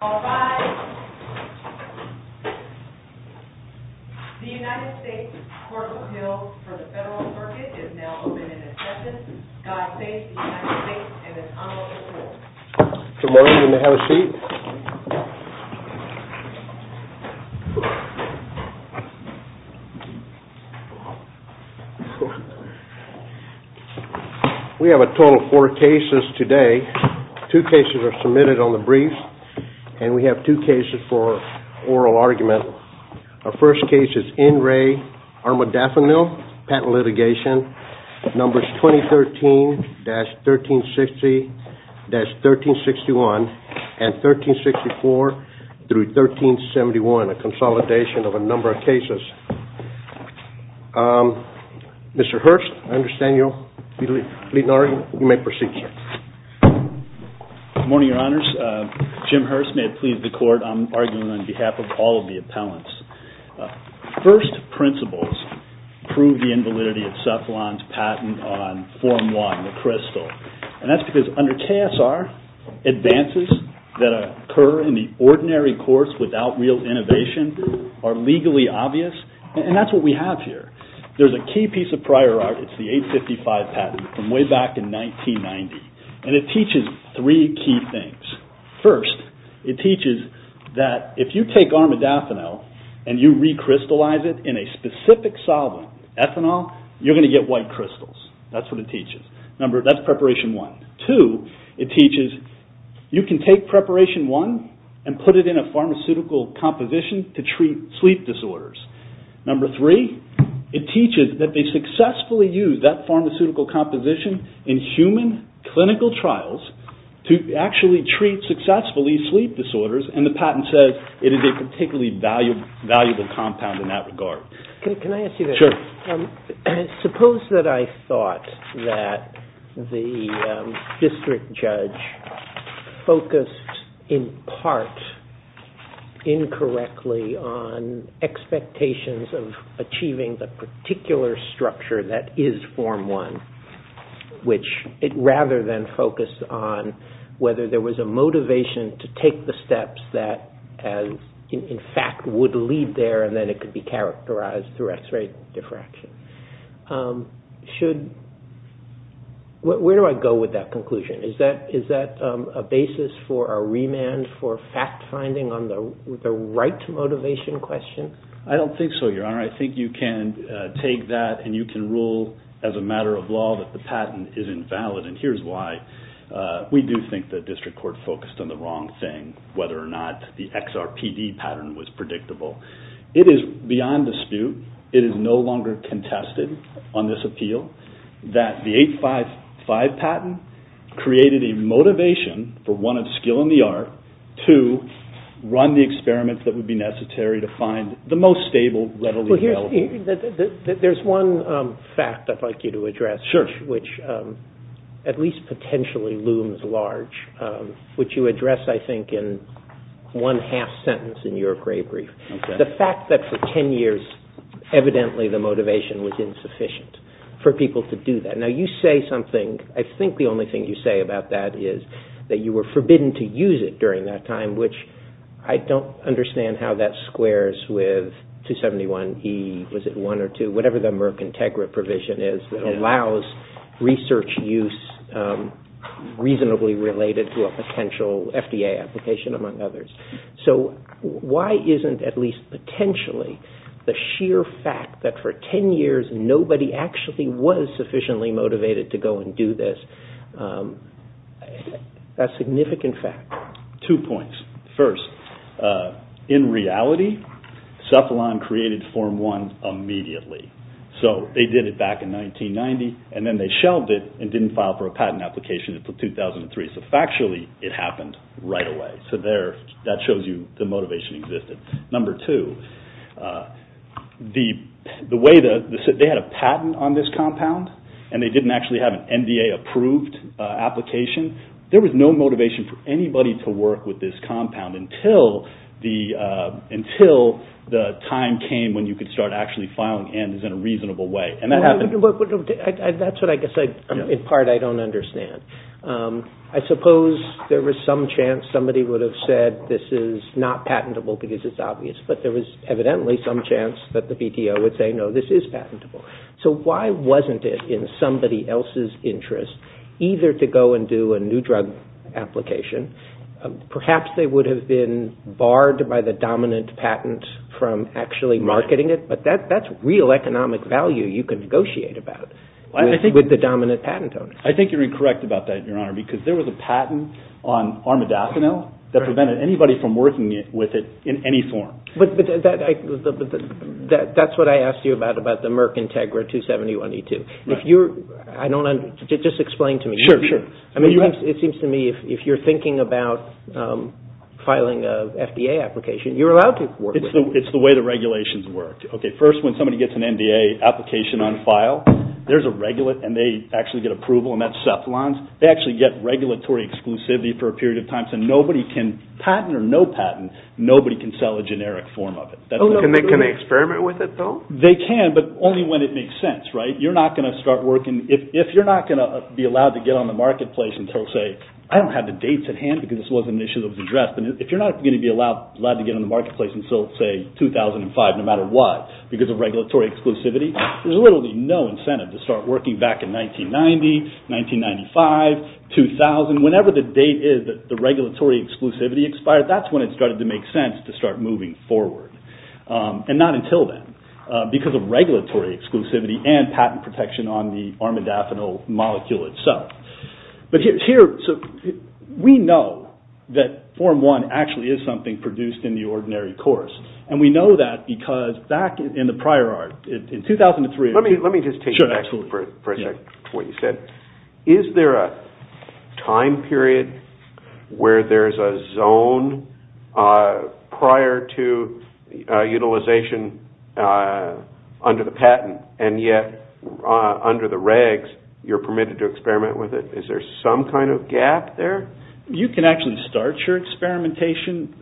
Alright, the United States Court of Appeals for the Federal Circuit is now open in its session. God Save the United States and its Honorable Court. Good morning, you may have a seat. We have a total of four cases today. Two cases are submitted on the brief and we have two cases for oral argument. Our first case is N. Ray Armadafinil, Patent Litigation, Numbers 2013-1360-1361 and 1364-1371, a consolidation of a number of cases. Mr. Hurst, I understand you will be leading the argument. You may proceed, sir. Good morning, Your Honors. Jim Hurst, may it please the Court, I'm arguing on behalf of all of the appellants. First principles prove the invalidity of Cephalon's patent on Form 1, the crystal. And that's because under KSR, advances that occur in the ordinary course without real innovation are legally obvious and that's what we have here. There's a key piece of prior art, it's the 855 patent from way back in 1990 and it teaches three key things. First, it teaches that if you take Armadafinil and you recrystallize it in a specific solvent, ethanol, you're going to get white crystals. That's what it teaches. That's Preparation 1. Two, it teaches you can take Preparation 1 and put it in a pharmaceutical composition to treat sleep disorders. Number three, it teaches that they successfully use that pharmaceutical composition in human clinical trials to actually treat successfully sleep disorders and the patent says it is a particularly valuable compound in that regard. Can I ask you this? Sure. Suppose that I thought that the district judge focused in part incorrectly on expectations of achieving the particular structure that is Form 1, which rather than focus on whether there was a motivation to take the steps that in fact would lead there and then it could be characterized through x-ray diffraction. Where do I go with that conclusion? Is that a basis for a remand for fact finding on the right motivation question? I don't think so, Your Honor. I think you can take that and you can rule as a matter of law that the patent is invalid and here's why we do think the district court focused on the wrong thing, whether or not the XRPD pattern was predictable. It is beyond dispute. It is no longer contested on this appeal that the 855 patent created a motivation for one, of skill in the art, two, run the experiments that would be necessary to find the most stable readily available. There's one fact I'd like you to address, which at least potentially looms large, which you address I think in one half sentence in your gray brief. The fact that for 10 years evidently the motivation was insufficient for people to do that. Now you say something, I think the only thing you say about that is that you were forbidden to use it during that time, which I don't understand how that squares with 271E, was it 1 or 2, whatever the Merck Integra provision is that allows research use reasonably related to a potential FDA application among others. So why isn't at least potentially the sheer fact that for 10 years nobody actually was sufficiently motivated to go and do this a significant fact? Two points. First, in reality Cephalon created Form 1 immediately. So they did it back in 1990 and then they shelved it and didn't file for a patent application until 2003. So factually it happened right away. So that shows you the motivation existed. Number two, they had a patent on this compound and they didn't actually have an NDA approved application. There was no motivation for anybody to work with this compound until the time came when you could start actually filing N's in a reasonable way. That's what I guess in part I don't understand. I suppose there was some chance somebody would have said this is not patentable because it's obvious, but there was evidently some chance that the BTO would say no, this is patentable. So why wasn't it in somebody else's interest either to go and do a new drug application, perhaps they would have been barred by the dominant patent from actually marketing it, but that's real economic value you can negotiate about with the dominant patent owner. I think you're incorrect about that, Your Honor, because there was a patent on armadacinil that prevented anybody from working with it in any form. But that's what I asked you about, about the Merck Integra 271E2. Just explain to me. Sure, sure. It seems to me if you're thinking about filing an FDA application, you're allowed to work with it. It's the way the regulations work. Okay, first when somebody gets an NDA application on file, there's a regulate and they actually get approval and that's Cephalon. They actually get regulatory exclusivity for a period of time. So nobody can patent or no patent, nobody can sell a generic form of it. Can they experiment with it though? They can, but only when it makes sense, right? You're not going to start working, if you're not going to be allowed to get on the marketplace and say I don't have the dates at hand because this wasn't an issue that was addressed, if you're not going to be allowed to get on the marketplace until say 2005 no matter what, because of regulatory exclusivity, there's literally no incentive to start working back in 1990, 1995, 2000, whenever the date is that the regulatory exclusivity expired, that's when it started to make sense to start moving forward. And not until then, because of regulatory exclusivity and patent protection on the armadacinil molecule itself. We know that Form 1 actually is something produced in the ordinary course and we know that because back in the prior art, in 2003... Let me just take you back for a second to what you said. Is there a time period where there's a zone prior to utilization under the patent and yet under the regs you're permitted to experiment with it? Is there some kind of gap there? You can actually start your experimentation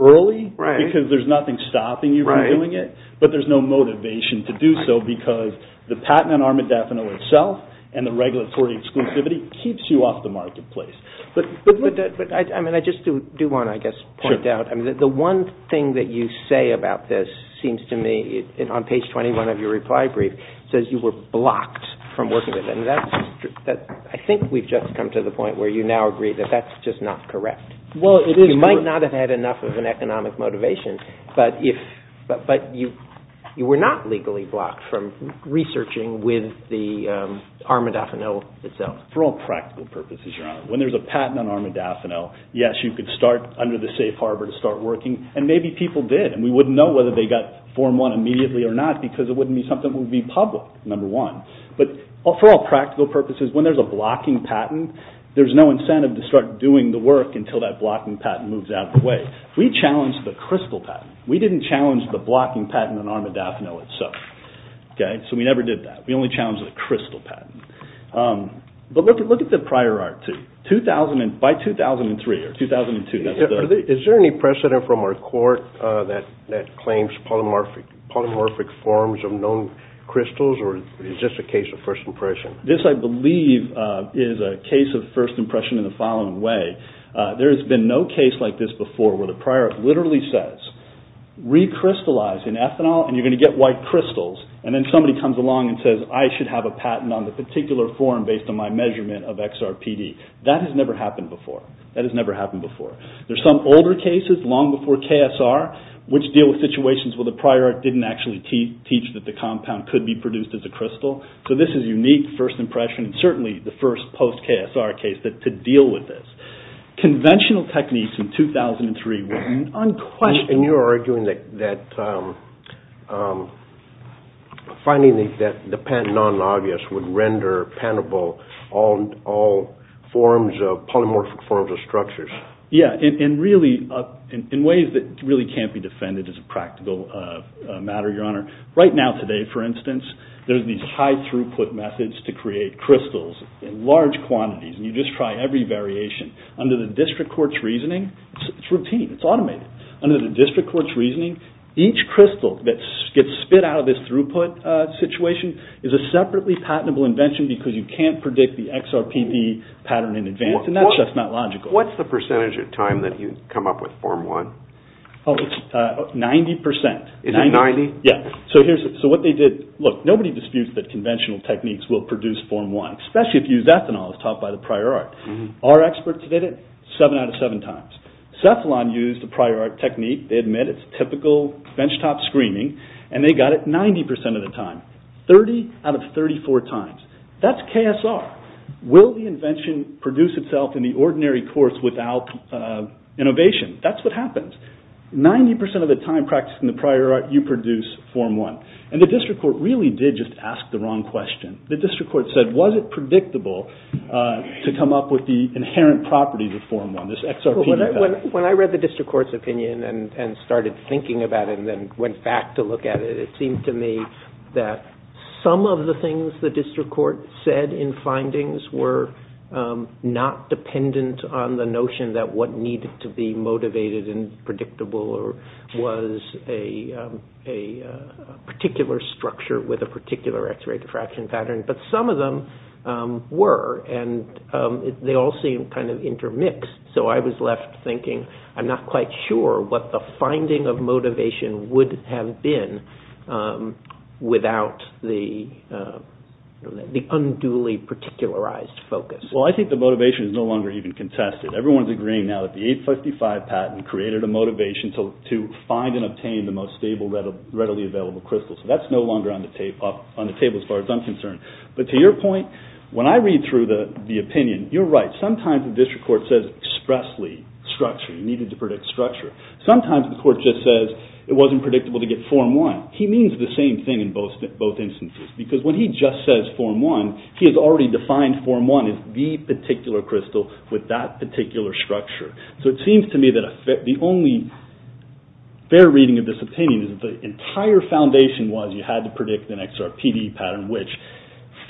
early because there's nothing stopping you from doing it, but there's no motivation to do so because the patent on armadacinil itself and the regulatory exclusivity keeps you off the marketplace. But I just do want to point out, the one thing that you say about this seems to me, on page 21 of your reply brief, says you were blocked from working with it. I think we've just come to the point where you now agree that that's just not correct. You might not have had enough of an economic motivation, but you were not legally blocked from researching with the armadacinil itself. For all practical purposes, Your Honor, when there's a patent on armadacinil, yes, you could start under the safe harbor to start working and maybe people did and we wouldn't know whether they got Form 1 immediately or not because it wouldn't be something that would be public, number one. But for all practical purposes, when there's a blocking patent, there's no incentive to start doing the work until that blocking patent moves out of the way. We challenged the crystal patent. We didn't challenge the blocking patent on armadacinil itself. So we never did that. We only challenged the crystal patent. But look at the prior art too. By 2003 or 2002. Is there any precedent from our court that claims polymorphic forms of known crystals or is this just a case of first impression? This, I believe, is a case of first impression in the following way. There has been no case like this before where the prior art literally says, recrystallize in ethanol and you're going to get white crystals, and then somebody comes along and says, I should have a patent on the particular form based on my measurement of XRPD. That has never happened before. That has never happened before. There are some older cases, long before KSR, which deal with situations where the prior art didn't actually teach that the compound could be produced as a crystal. So this is unique, first impression, and certainly the first post-KSR case to deal with this. Conventional techniques in 2003 were unquestionable. You're arguing that finding the patent non-obvious would render patentable all polymorphic forms of structures. Yes, in ways that really can't be defended as a practical matter, Your Honor. Right now today, for instance, there are these high-throughput methods to create crystals in large quantities, and you just try every variation. Under the district court's reasoning, it's routine. It's automated. Under the district court's reasoning, each crystal that gets spit out of this throughput situation is a separately patentable invention because you can't predict the XRPD pattern in advance, and that's just not logical. What's the percentage of time that you come up with Form 1? Oh, it's 90%. Is it 90%? Yes. So what they did, look, nobody disputes that conventional techniques will produce Form 1, especially if you use ethanol as taught by the prior art. Our experts did it seven out of seven times. Cephalon used the prior art technique. They admit it's typical benchtop screening, and they got it 90% of the time, 30 out of 34 times. That's KSR. Will the invention produce itself in the ordinary course without innovation? That's what happens. 90% of the time practicing the prior art, you produce Form 1, and the district court really did just ask the wrong question. The district court said, was it predictable to come up with the inherent properties of Form 1, When I read the district court's opinion and started thinking about it and then went back to look at it, it seemed to me that some of the things the district court said in findings were not dependent on the notion that what needed to be motivated and predictable was a particular structure with a particular x-ray diffraction pattern. But some of them were, and they all seemed kind of intermixed. So I was left thinking, I'm not quite sure what the finding of motivation would have been without the unduly particularized focus. Well, I think the motivation is no longer even contested. Everyone's agreeing now that the 855 patent created a motivation to find and obtain the most stable, readily available crystal. So that's no longer on the table as far as I'm concerned. But to your point, when I read through the opinion, you're right. Sometimes the district court says expressly structure, you needed to predict structure. Sometimes the court just says it wasn't predictable to get Form 1. He means the same thing in both instances. Because when he just says Form 1, he has already defined Form 1 as the particular crystal with that particular structure. So it seems to me that the only fair reading of this opinion is that the entire foundation was you had to predict an XRPD pattern which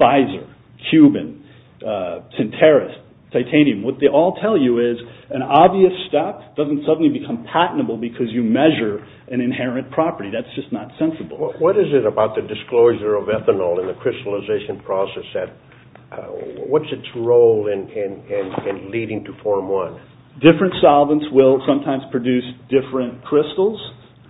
Pfizer, Moderna, Cuban, Asterisk, Titanium. What they all tell you is an obvious step doesn't suddenly become patentable because you measure an inherent property. That's just not sensible. What is it about the disclosure of ethanol in the crystallization process that what's its role leading to Form 1. Different solvents will sometimes produce different crystals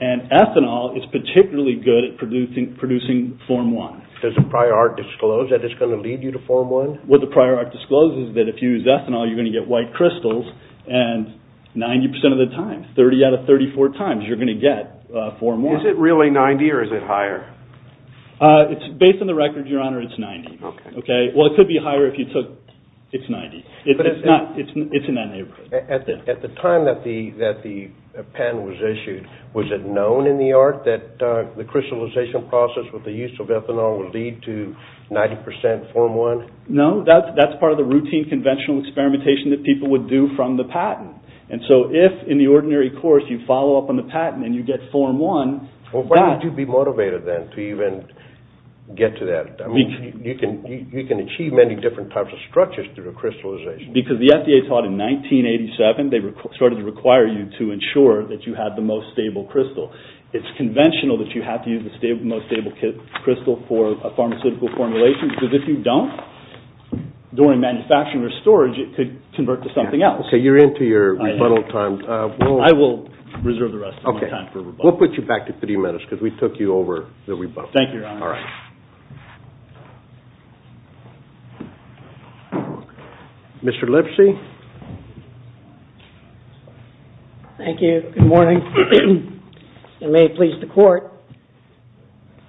and ethanol is particularly good at producing Form 1. Does the prior art disclose that it's going to lead you to Form 1? What the prior art discloses is that if you use ethanol, you're going to get white crystals and 90% of the time, 30 out of 34 times, you're going to get Form 1. Is it really 90 or is it higher? Based on the record, Your Honor, it's 90. Well, it could be higher if you took – it's 90. It's in that neighborhood. At the time that the patent was issued, was it known in the art that the crystallization process with the use of ethanol would lead to 90% Form 1? No. That's part of the routine conventional experimentation that people would do from the patent. And so if in the ordinary course, you follow up on the patent and you get Form 1. Well, why would you be motivated then to even get to that? I mean, you can achieve many different types of structures through crystallization. Because the FDA taught in 1987, they started to require you to ensure that you had the most stable crystal. It's conventional that you have to use the most stable crystal for a pharmaceutical formulation because if you don't, during manufacturing or storage, it could convert to something else. Okay, you're into your rebuttal time. I will reserve the rest of my time for rebuttal. Okay, we'll put you back to 30 minutes because we took you over the rebuttal. Thank you, Your Honor. All right. Mr. Lipsy? Thank you. Good morning. It may please the Court.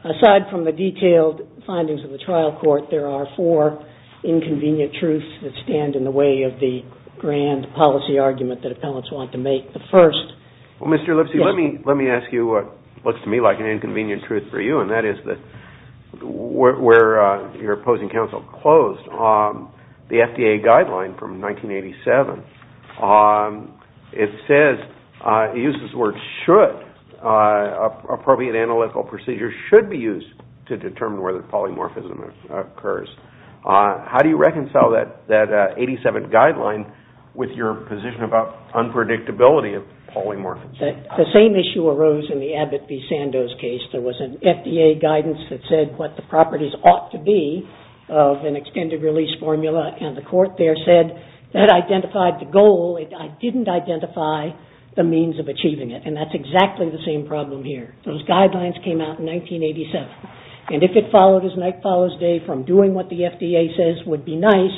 Aside from the detailed findings of the trial court, there are four inconvenient truths that stand in the way of the grand policy argument that appellants want to make. The first- Well, Mr. Lipsy, let me ask you what looks to me like an inconvenient truth for you, and that is that where your opposing counsel closed on the FDA guideline from 1987, it says, it uses the word should, appropriate analytical procedure should be used to determine whether polymorphism occurs. How do you reconcile that 1987 guideline with your position about unpredictability of polymorphism? The same issue arose in the Abbott v. Sandoz case. There was an FDA guidance that said what the properties ought to be of an extended release formula, and the court there said that identified the goal. It didn't identify the means of achieving it, and that's exactly the same problem here. Those guidelines came out in 1987, and if it followed as night follows day from doing what the FDA says would be nice,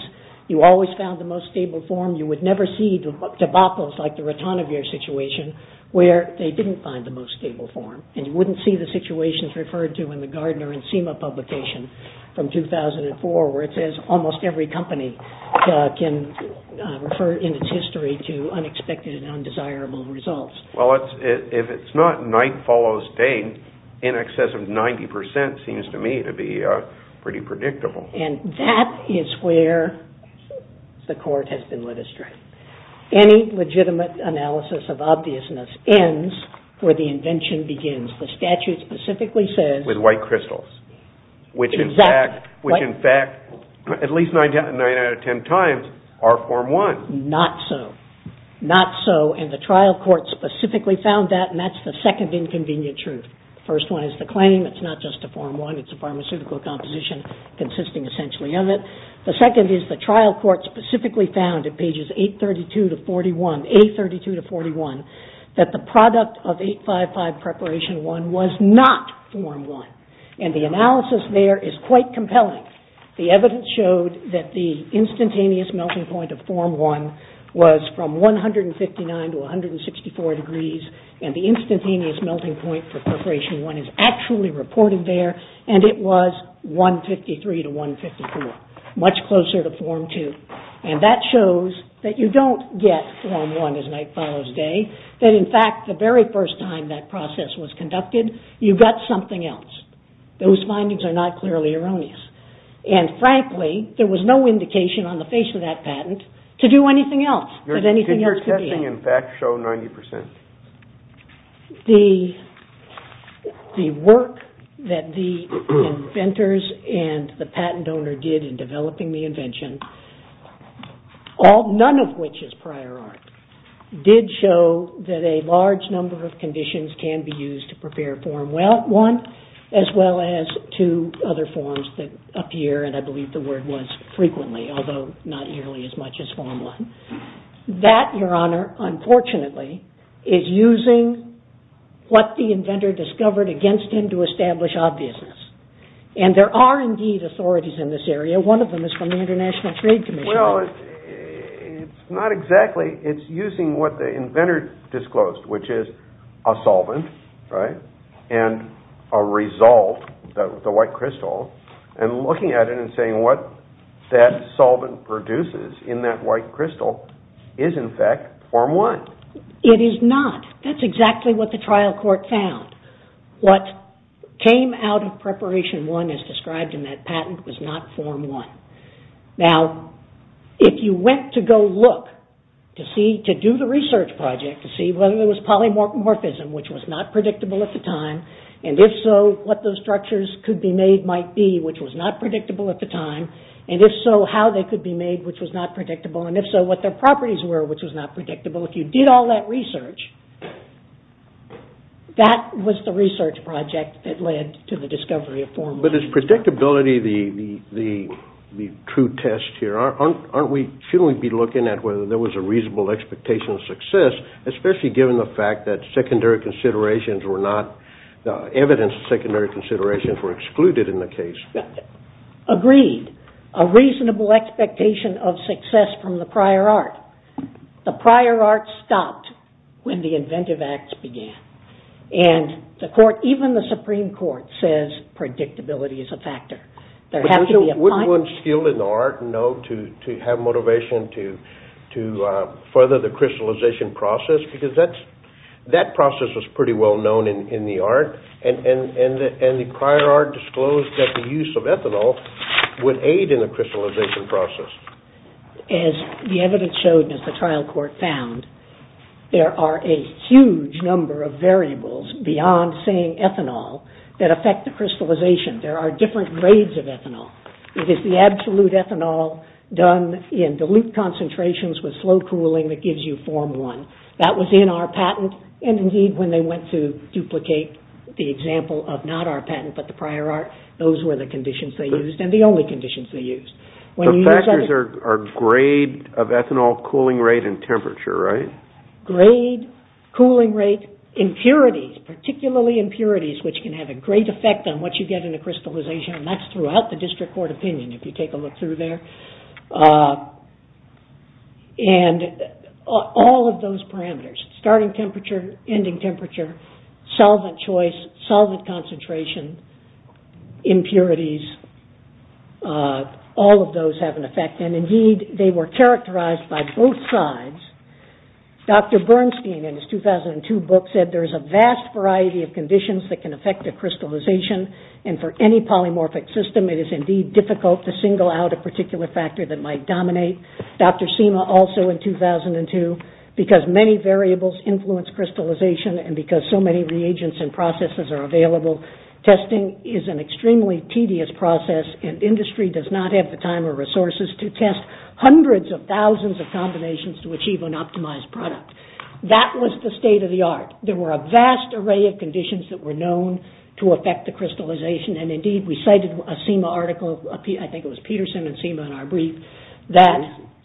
you always found the most stable form. You would never see tobaccos like the Rotonavir situation where they didn't find the most stable form, and you wouldn't see the situations referred to in the Gardner and SEMA publication from 2004 where it says almost every company can refer in its history to unexpected and undesirable results. Well, if it's not night follows day, in excess of 90% seems to me to be pretty predictable. And that is where the court has been led astray. Any legitimate analysis of obviousness ends where the invention begins. The statute specifically says... With white crystals. Which, in fact, at least 9 out of 10 times are Form 1. Not so. Not so, and the trial court specifically found that, and that's the second inconvenient truth. The first one is the claim it's not just a Form 1, it's a pharmaceutical composition consisting essentially of it. The second is the trial court specifically found in pages 832 to 41, that the product of 855 Preparation 1 was not Form 1. And the analysis there is quite compelling. The evidence showed that the instantaneous melting point of Form 1 was from 159 to 164 degrees, and the instantaneous melting point for Preparation 1 is actually reported there, and it was 153 to 154, much closer to Form 2. And that shows that you don't get Form 1 as night follows day. That, in fact, the very first time that process was conducted, you got something else. Those findings are not clearly erroneous. And frankly, there was no indication on the face of that patent to do anything else. Did your testing in fact show 90%? The work that the inventors and the patent owner did in developing the invention all, none of which is prior art, did show that a large number of conditions can be used to prepare Form 1, as well as two other forms that appear, and I believe the word was frequently, although not nearly as much as Form 1. That, your honor, unfortunately, is using what the inventor discovered against him to establish obviousness. And there are indeed authorities in this area. One of them is from the International Trade Commission. Well, it's not exactly. It's using what the inventor disclosed, which is a solvent, right, and a result, the white crystal, and looking at it and saying what that solvent produces in that white crystal is, in fact, Form 1. It is not. That's exactly what the trial court found. What came out of Preparation 1, as described in that patent, was not Form 1. Now, if you went to go look to see, to do the research project, to see whether there was polymorphism, which was not predictable at the time, and if so, what those structures could be made might be, which was not predictable at the time, and if so, how they could be made, which was not predictable, and if so, what their properties were, which was not predictable. If you did all that research, that was the research project that led to the discovery of Form 1. But is predictability the true test here? Shouldn't we be looking at whether there was a reasonable expectation of success, especially given the fact that evidence of secondary considerations were excluded in the case? Agreed. A reasonable expectation of success from the prior art. The prior art stopped when the inventive acts began, and even the Supreme Court says predictability is a factor. Wouldn't one skill in the art know to have motivation to further the crystallization process? Because that process was pretty well known in the art, and the prior art disclosed that the use of ethanol would aid in the crystallization process. As the evidence showed and as the trial court found, there are a huge number of variables beyond saying ethanol that affect the crystallization. There are different grades of ethanol. It is the absolute ethanol done in dilute concentrations with slow cooling that gives you Form 1. That was in our patent, and indeed when they went to duplicate the example of not our patent, but the prior art, those were the conditions they used, and the only conditions they used. The factors are grade of ethanol, cooling rate, and temperature, right? Grade, cooling rate, impurities, particularly impurities, which can have a great effect on what you get in a crystallization, and that's throughout the district court opinion if you take a look through there. All of those parameters, starting temperature, ending temperature, solvent choice, solvent concentration, impurities, all of those have an effect, and indeed they were characterized by both sides. Dr. Bernstein in his 2002 book said there is a vast variety of conditions that can affect the crystallization, and for any polymorphic system it is indeed difficult to single out a particular factor that might dominate. Dr. Seema also in 2002, because many variables influence crystallization, and because so many reagents and processes are available, testing is an extremely tedious process, and industry does not have the time or resources to test hundreds of thousands of combinations to achieve an optimized product. That was the state of the art. There were a vast array of conditions that were known to affect the crystallization, and indeed we cited a Seema article, I think it was Peterson and Seema in our brief, that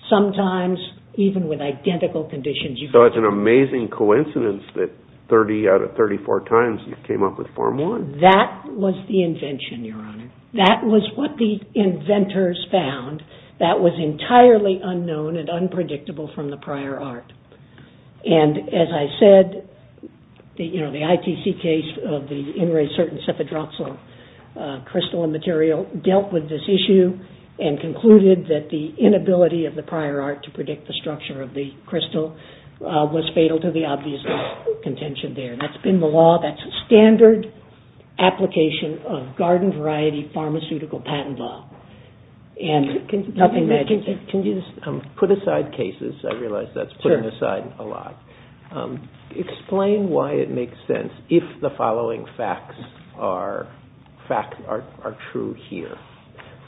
sometimes even with identical conditions you can get... So it's an amazing coincidence that 30 out of 34 times you came up with Form I. That was the invention, Your Honor. That was what the inventors found that was entirely unknown and unpredictable from the prior art. And as I said, you know, the ITC case of the in-ray certain cephedroxyl crystalline material dealt with this issue and concluded that the inability of the prior art to predict the structure of the crystal was fatal to the obvious contention there. That's been the law. That's a standard application of garden variety pharmaceutical patent law. Can you put aside cases? I realize that's putting aside a lot. Explain why it makes sense if the following facts are true here.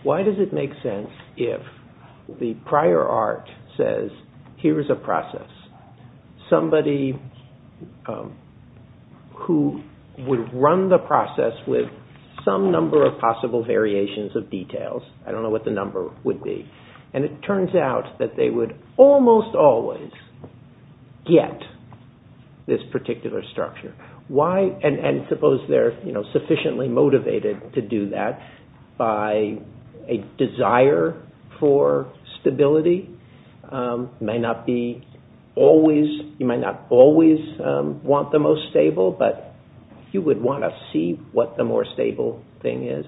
Why does it make sense if the prior art says here is a process, somebody who would run the process with some number of possible variations of details, I don't know what the number would be, and it turns out that they would almost always get this particular structure. And suppose they're sufficiently motivated to do that by a desire for stability. You might not always want the most stable, but you would want to see what the more stable thing is.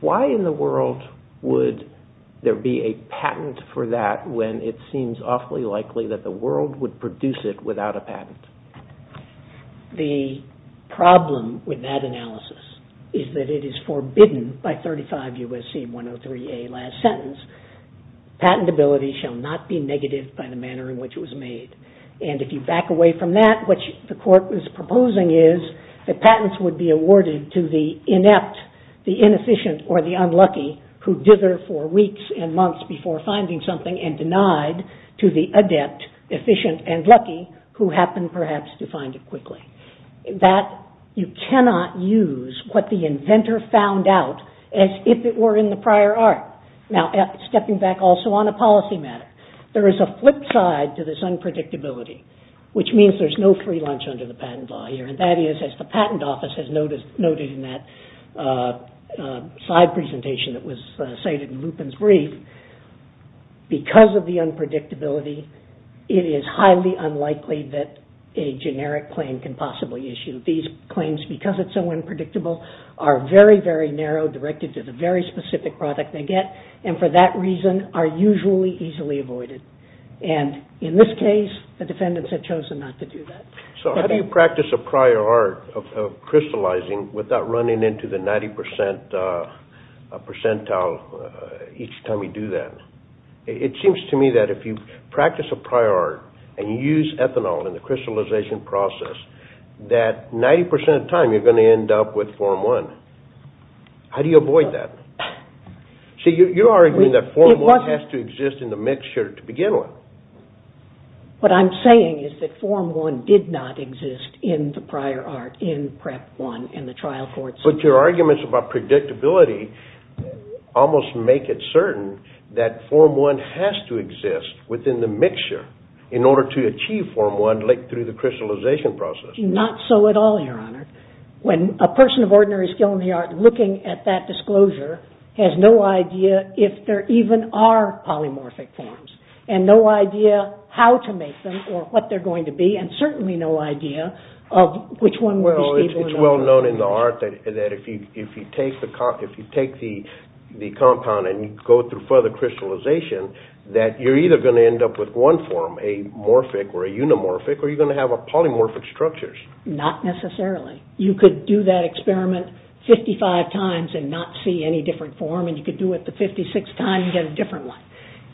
Why in the world would there be a patent for that when it seems awfully likely that the world would produce it without a patent? The problem with that analysis is that it is forbidden by 35 U.S.C. 103a last sentence. Patentability shall not be negative by the manner in which it was made. And if you back away from that, what the court was proposing is that patents would be awarded to the inept, the inefficient, or the unlucky who dither for weeks and months before finding something and denied to the adept, efficient, and lucky who happened perhaps to find it quickly. That you cannot use what the inventor found out as if it were in the prior art. Now, stepping back also on a policy matter, there is a flip side to this unpredictability, which means there's no free lunch under the patent law here, and that is, as the patent office has noted in that slide presentation that was cited in Lupin's brief, because of the unpredictability, it is highly unlikely that a generic claim can possibly issue. These claims, because it's so unpredictable, are very, very narrow, directed to the very specific product they get, and for that reason are usually easily avoided. And in this case, the defendants have chosen not to do that. So how do you practice a prior art of crystallizing without running into the 90 percentile each time you do that? It seems to me that if you practice a prior art and you use ethanol in the crystallization process, that 90 percent of the time you're going to end up with Form I. How do you avoid that? See, you're arguing that Form I has to exist in the mixture to begin with. What I'm saying is that Form I did not exist in the prior art, in PrEP I, in the trial courts. But your arguments about predictability almost make it certain that Form I has to exist within the mixture in order to achieve Form I through the crystallization process. Not so at all, Your Honor. When a person of ordinary skill in the art, looking at that disclosure, has no idea if there even are polymorphic forms, and no idea how to make them or what they're going to be, and certainly no idea of which one would be stable enough. Well, it's well known in the art that if you take the compound and you go through further crystallization, that you're either going to end up with one form, a morphic or a unimorphic, or you're going to have polymorphic structures. Not necessarily. You could do that experiment 55 times and not see any different form, and you could do it the 56th time and get a different one.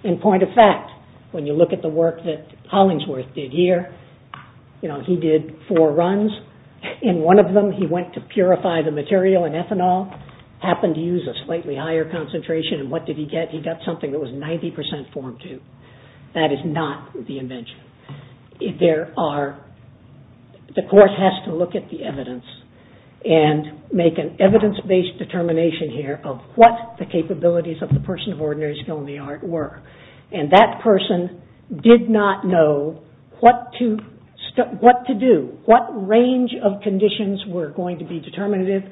In point of fact, when you look at the work that Hollingsworth did here, he did four runs. In one of them, he went to purify the material in ethanol, happened to use a slightly higher concentration, and what did he get? He got something that was 90% Form II. That is not the invention. The course has to look at the evidence and make an evidence-based determination here of what the capabilities of the person of ordinary skill in the art were, and that person did not know what to do, what range of conditions were going to be determinative,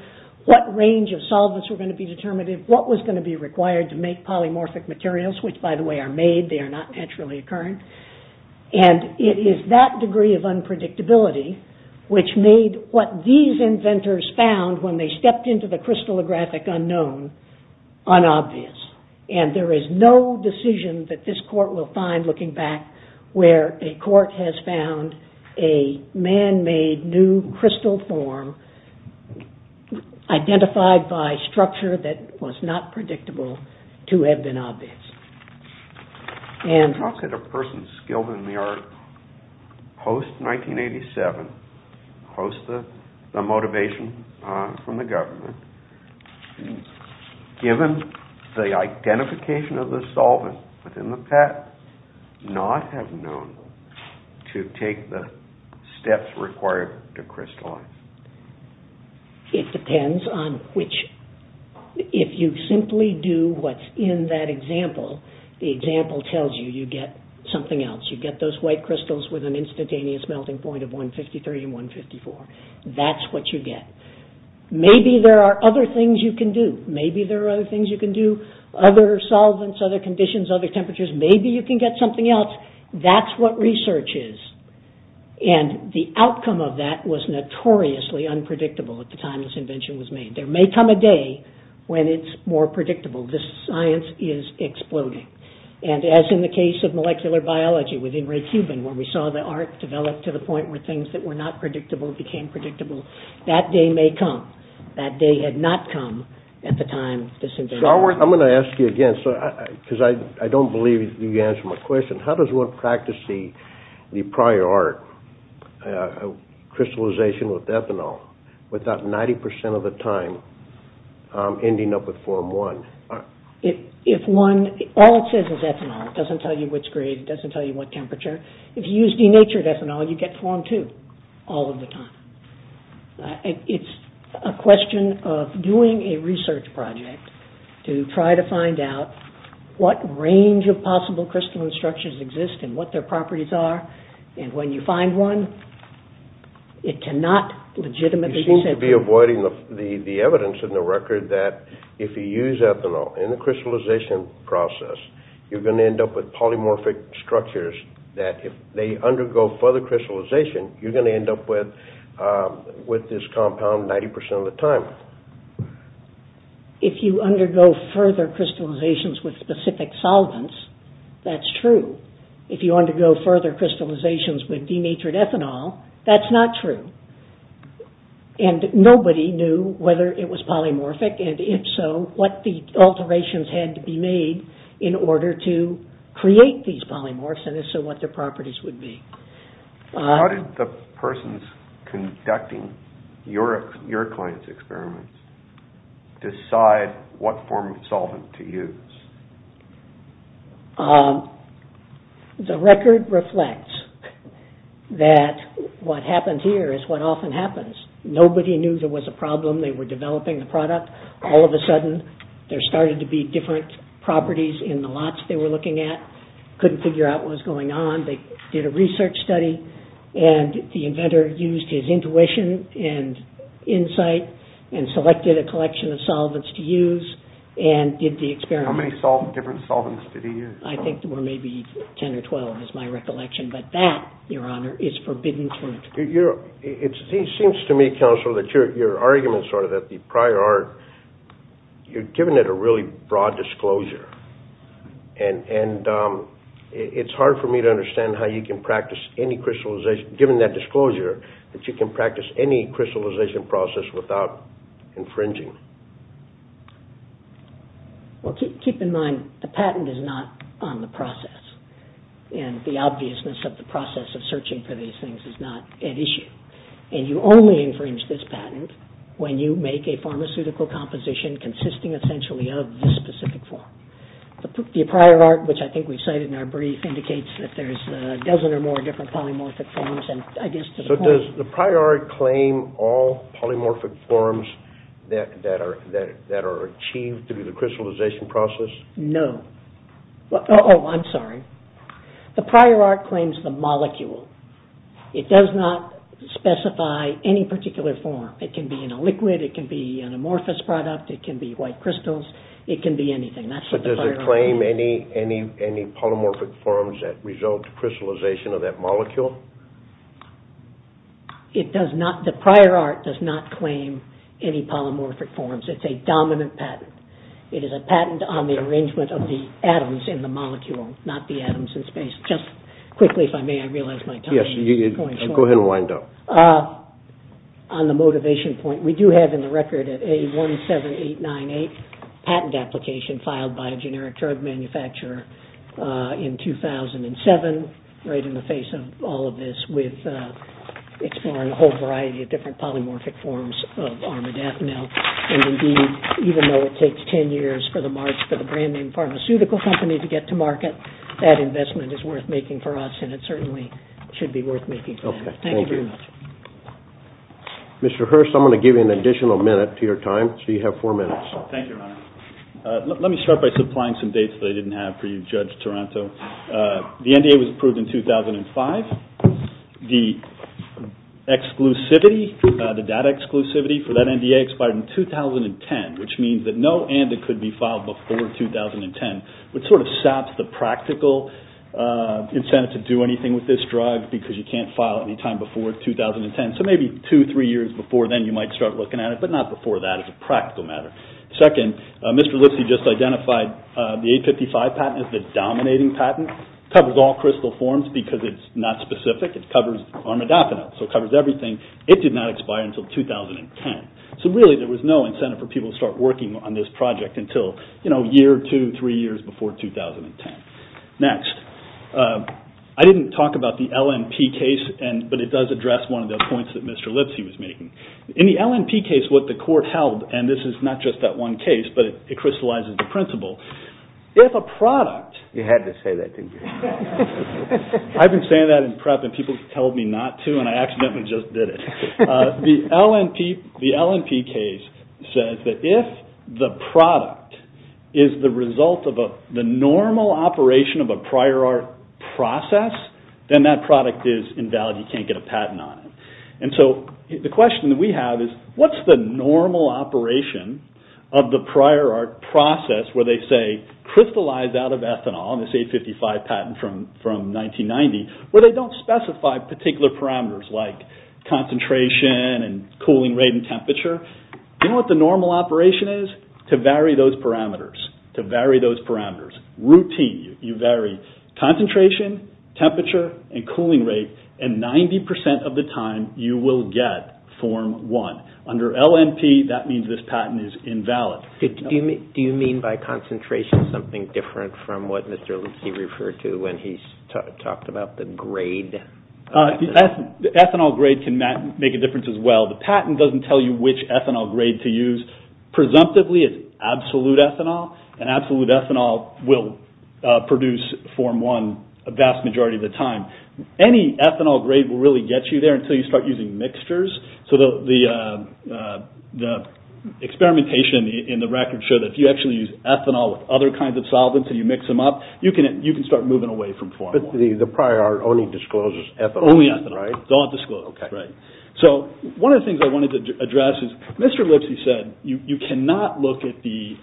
what range of solvents were going to be determinative, what was going to be required to make polymorphic materials, which, by the way, are made. They are not naturally occurring, and it is that degree of unpredictability which made what these inventors found when they stepped into the crystallographic unknown unobvious, and there is no decision that this court will find looking back where a court has found a man-made new crystal form identified by structure that was not predictable to have been obvious. How could a person skilled in the art post-1987, post the motivation from the government, given the identification of the solvent within the pattern, not have known to take the steps required to crystallize? It depends on which, if you simply do what is in that example, the example tells you you get something else. You get those white crystals with an instantaneous melting point of 153 and 154. That is what you get. Maybe there are other things you can do. Maybe there are other things you can do, other solvents, other conditions, other temperatures. Maybe you can get something else. That is what research is, and the outcome of that was notoriously unpredictable at the time this invention was made. There may come a day when it is more predictable. This science is exploding, and as in the case of molecular biology within Red Cuban where we saw the art develop to the point where things that were not predictable became predictable, that day may come. That day had not come at the time of this invention. I am going to ask you again, because I do not believe you answered my question. How does one practice the prior art, crystallization with ethanol, without 90% of the time ending up with Form I? All it says is ethanol. It does not tell you which grade. It does not tell you what temperature. If you use denatured ethanol, you get Form II all of the time. It is a question of doing a research project to try to find out what range of possible crystalline structures exist and what their properties are, and when you find one, it cannot legitimately be said. You seem to be avoiding the evidence in the record that if you use ethanol in the crystallization process, you are going to end up with polymorphic structures that if they undergo further crystallization, you are going to end up with this compound 90% of the time. If you undergo further crystallizations with specific solvents, that is true. If you undergo further crystallizations with denatured ethanol, that is not true. Nobody knew whether it was polymorphic, and if so, what alterations had to be made in order to create these polymorphs and if so, what their properties would be. How did the persons conducting your client's experiments decide what form of solvent to use? The record reflects that what happens here is what often happens. Nobody knew there was a problem. They were developing the product. All of a sudden, there started to be different properties in the lots they were looking at. Couldn't figure out what was going on. They did a research study, and the inventor used his intuition and insight and selected a collection of solvents to use and did the experiment. How many different solvents did he use? I think there were maybe 10 or 12 is my recollection, but that, Your Honor, is forbidden to interpret. It seems to me, Counselor, that your arguments are that the prior art, you've given it a really broad disclosure, and it's hard for me to understand how you can practice any crystallization, given that disclosure, that you can practice any crystallization process without infringing. Well, keep in mind, the patent is not on the process, and the obviousness of the process of searching for these things is not at issue, and you only infringe this patent when you make a pharmaceutical composition consisting essentially of this specific form. The prior art, which I think we've cited in our brief, indicates that there's a dozen or more different polymorphic forms, and I guess to the point- So does the prior art claim all polymorphic forms that are achieved through the crystallization process? No. Oh, I'm sorry. The prior art claims the molecule. It does not specify any particular form. It can be in a liquid, it can be an amorphous product, it can be white crystals, it can be anything. That's what the prior art- But does it claim any polymorphic forms that result in crystallization of that molecule? It does not. The prior art does not claim any polymorphic forms. It's a dominant patent. It is a patent on the arrangement of the atoms in the molecule, not the atoms in space. Just quickly, if I may, I realize my time is going short. Go ahead and wind up. On the motivation point, we do have in the record an A17898 patent application filed by a generic drug manufacturer in 2007, right in the face of all of this, with exploring a whole variety of different polymorphic forms of armadafinil. And, indeed, even though it takes 10 years for the March for the brand-name pharmaceutical company to get to market, that investment is worth making for us, Okay, thank you. Thank you very much. Mr. Hurst, I'm going to give you an additional minute to your time. So you have four minutes. Thank you, Your Honor. Let me start by supplying some dates that I didn't have for you, Judge Taranto. The NDA was approved in 2005. The exclusivity, the data exclusivity for that NDA expired in 2010, which means that no ANDA could be filed before 2010, which sort of saps the practical incentive to do anything with this drug because you can't file any time before 2010. So maybe two, three years before then you might start looking at it, but not before that as a practical matter. Second, Mr. Lipsy just identified the A55 patent as the dominating patent. It covers all crystal forms because it's not specific. It covers armadafinil, so it covers everything. It did not expire until 2010. So, really, there was no incentive for people to start working on this project until a year, two, three years before 2010. Next, I didn't talk about the LNP case, but it does address one of the points that Mr. Lipsy was making. In the LNP case, what the court held, and this is not just that one case, but it crystallizes the principle. If a product… You had to say that didn't you? I've been saying that in prep and people have told me not to and I accidentally just did it. The LNP case says that if the product is the result of the normal operation of a prior art process, then that product is invalid. You can't get a patent on it. And so the question that we have is, what's the normal operation of the prior art process where they say, crystallize out of ethanol, this A55 patent from 1990, where they don't specify particular parameters like concentration and cooling rate and temperature. Do you know what the normal operation is? To vary those parameters, to vary those parameters. It's routine. You vary concentration, temperature, and cooling rate, and 90% of the time you will get Form 1. Under LNP, that means this patent is invalid. Do you mean by concentration something different from what Mr. Lipsy referred to when he talked about the grade? The ethanol grade can make a difference as well. The patent doesn't tell you which ethanol grade to use. Presumptively, it's absolute ethanol, and absolute ethanol will produce Form 1 a vast majority of the time. Any ethanol grade will really get you there until you start using mixtures. So the experimentation in the record showed that if you actually use ethanol with other kinds of solvents and you mix them up, you can start moving away from Form 1. But the prior art only discloses ethanol. Only ethanol. It's all disclosed. Okay. Right. So one of the things I wanted to address is Mr. Lipsy said, you cannot look at the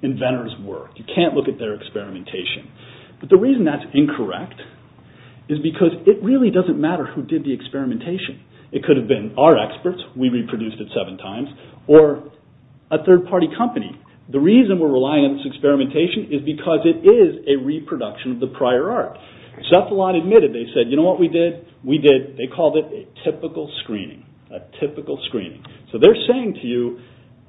inventor's work. You can't look at their experimentation. But the reason that's incorrect is because it really doesn't matter who did the experimentation. It could have been our experts, we reproduced it seven times, or a third-party company. The reason we're relying on this experimentation is because it is a reproduction of the prior art. Cephalon admitted, they said, you know what we did? We did, they called it a typical screening. A typical screening. So they're saying to you,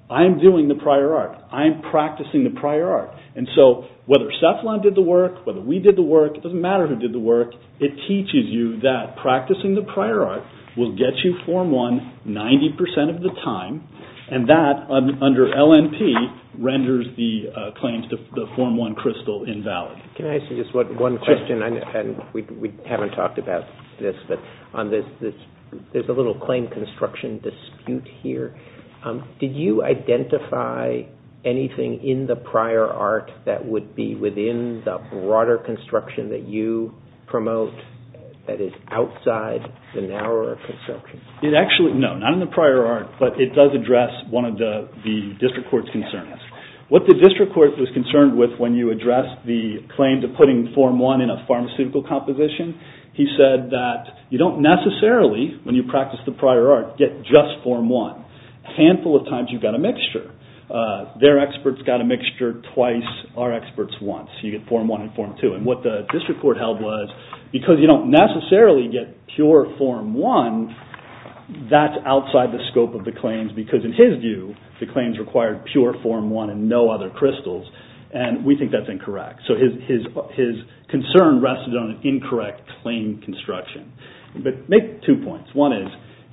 I'm doing the prior art. I'm practicing the prior art. And so whether Cephalon did the work, whether we did the work, it doesn't matter who did the work, it teaches you that practicing the prior art will get you Form 1 90% of the time, and that, under LNP, renders the claims to the Form 1 crystal invalid. Can I ask you just one question? We haven't talked about this, but there's a little claim construction dispute here. Did you identify anything in the prior art that would be within the broader construction that you promote that is outside the narrower construction? It actually, no, not in the prior art, but it does address one of the district court's concerns. What the district court was concerned with when you addressed the claim to putting Form 1 in a pharmaceutical composition, he said that you don't necessarily, when you practice the prior art, get just Form 1. A handful of times you've got a mixture. Their experts got a mixture twice our experts once. You get Form 1 and Form 2. And what the district court held was, because you don't necessarily get pure Form 1, that's outside the scope of the claims, because in his view the claims required pure Form 1 and no other crystals, and we think that's incorrect. So his concern rested on an incorrect claim construction. But make two points. One is,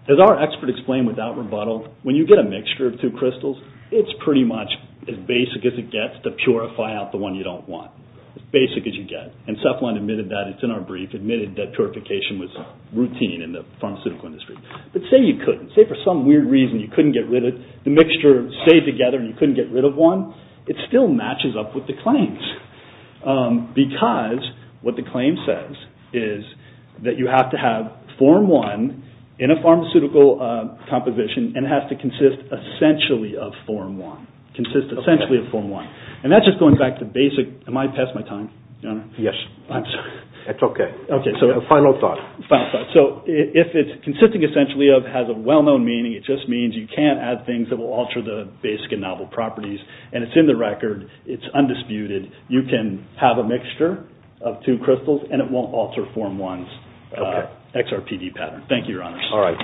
as our expert explained without rebuttal, when you get a mixture of two crystals, it's pretty much as basic as it gets to purify out the one you don't want. As basic as you get. And Cephalon admitted that. It's in our brief. Admitted that purification was routine in the pharmaceutical industry. But say you couldn't. Say for some weird reason you couldn't get rid of it. The mixture stayed together and you couldn't get rid of one. It still matches up with the claims. Because what the claim says is that you have to have Form 1 in a pharmaceutical composition and it has to consist essentially of Form 1. Consist essentially of Form 1. And that's just going back to basic. Am I past my time? Yes. I'm sorry. That's okay. Final thought. Final thought. So if it's consisting essentially of, has a well-known meaning, it just means you can't add things that will alter the basic and novel properties. And it's in the record. It's undisputed. You can have a mixture of two crystals and it won't alter Form 1's XRPD pattern. Thank you, Your Honors. All right.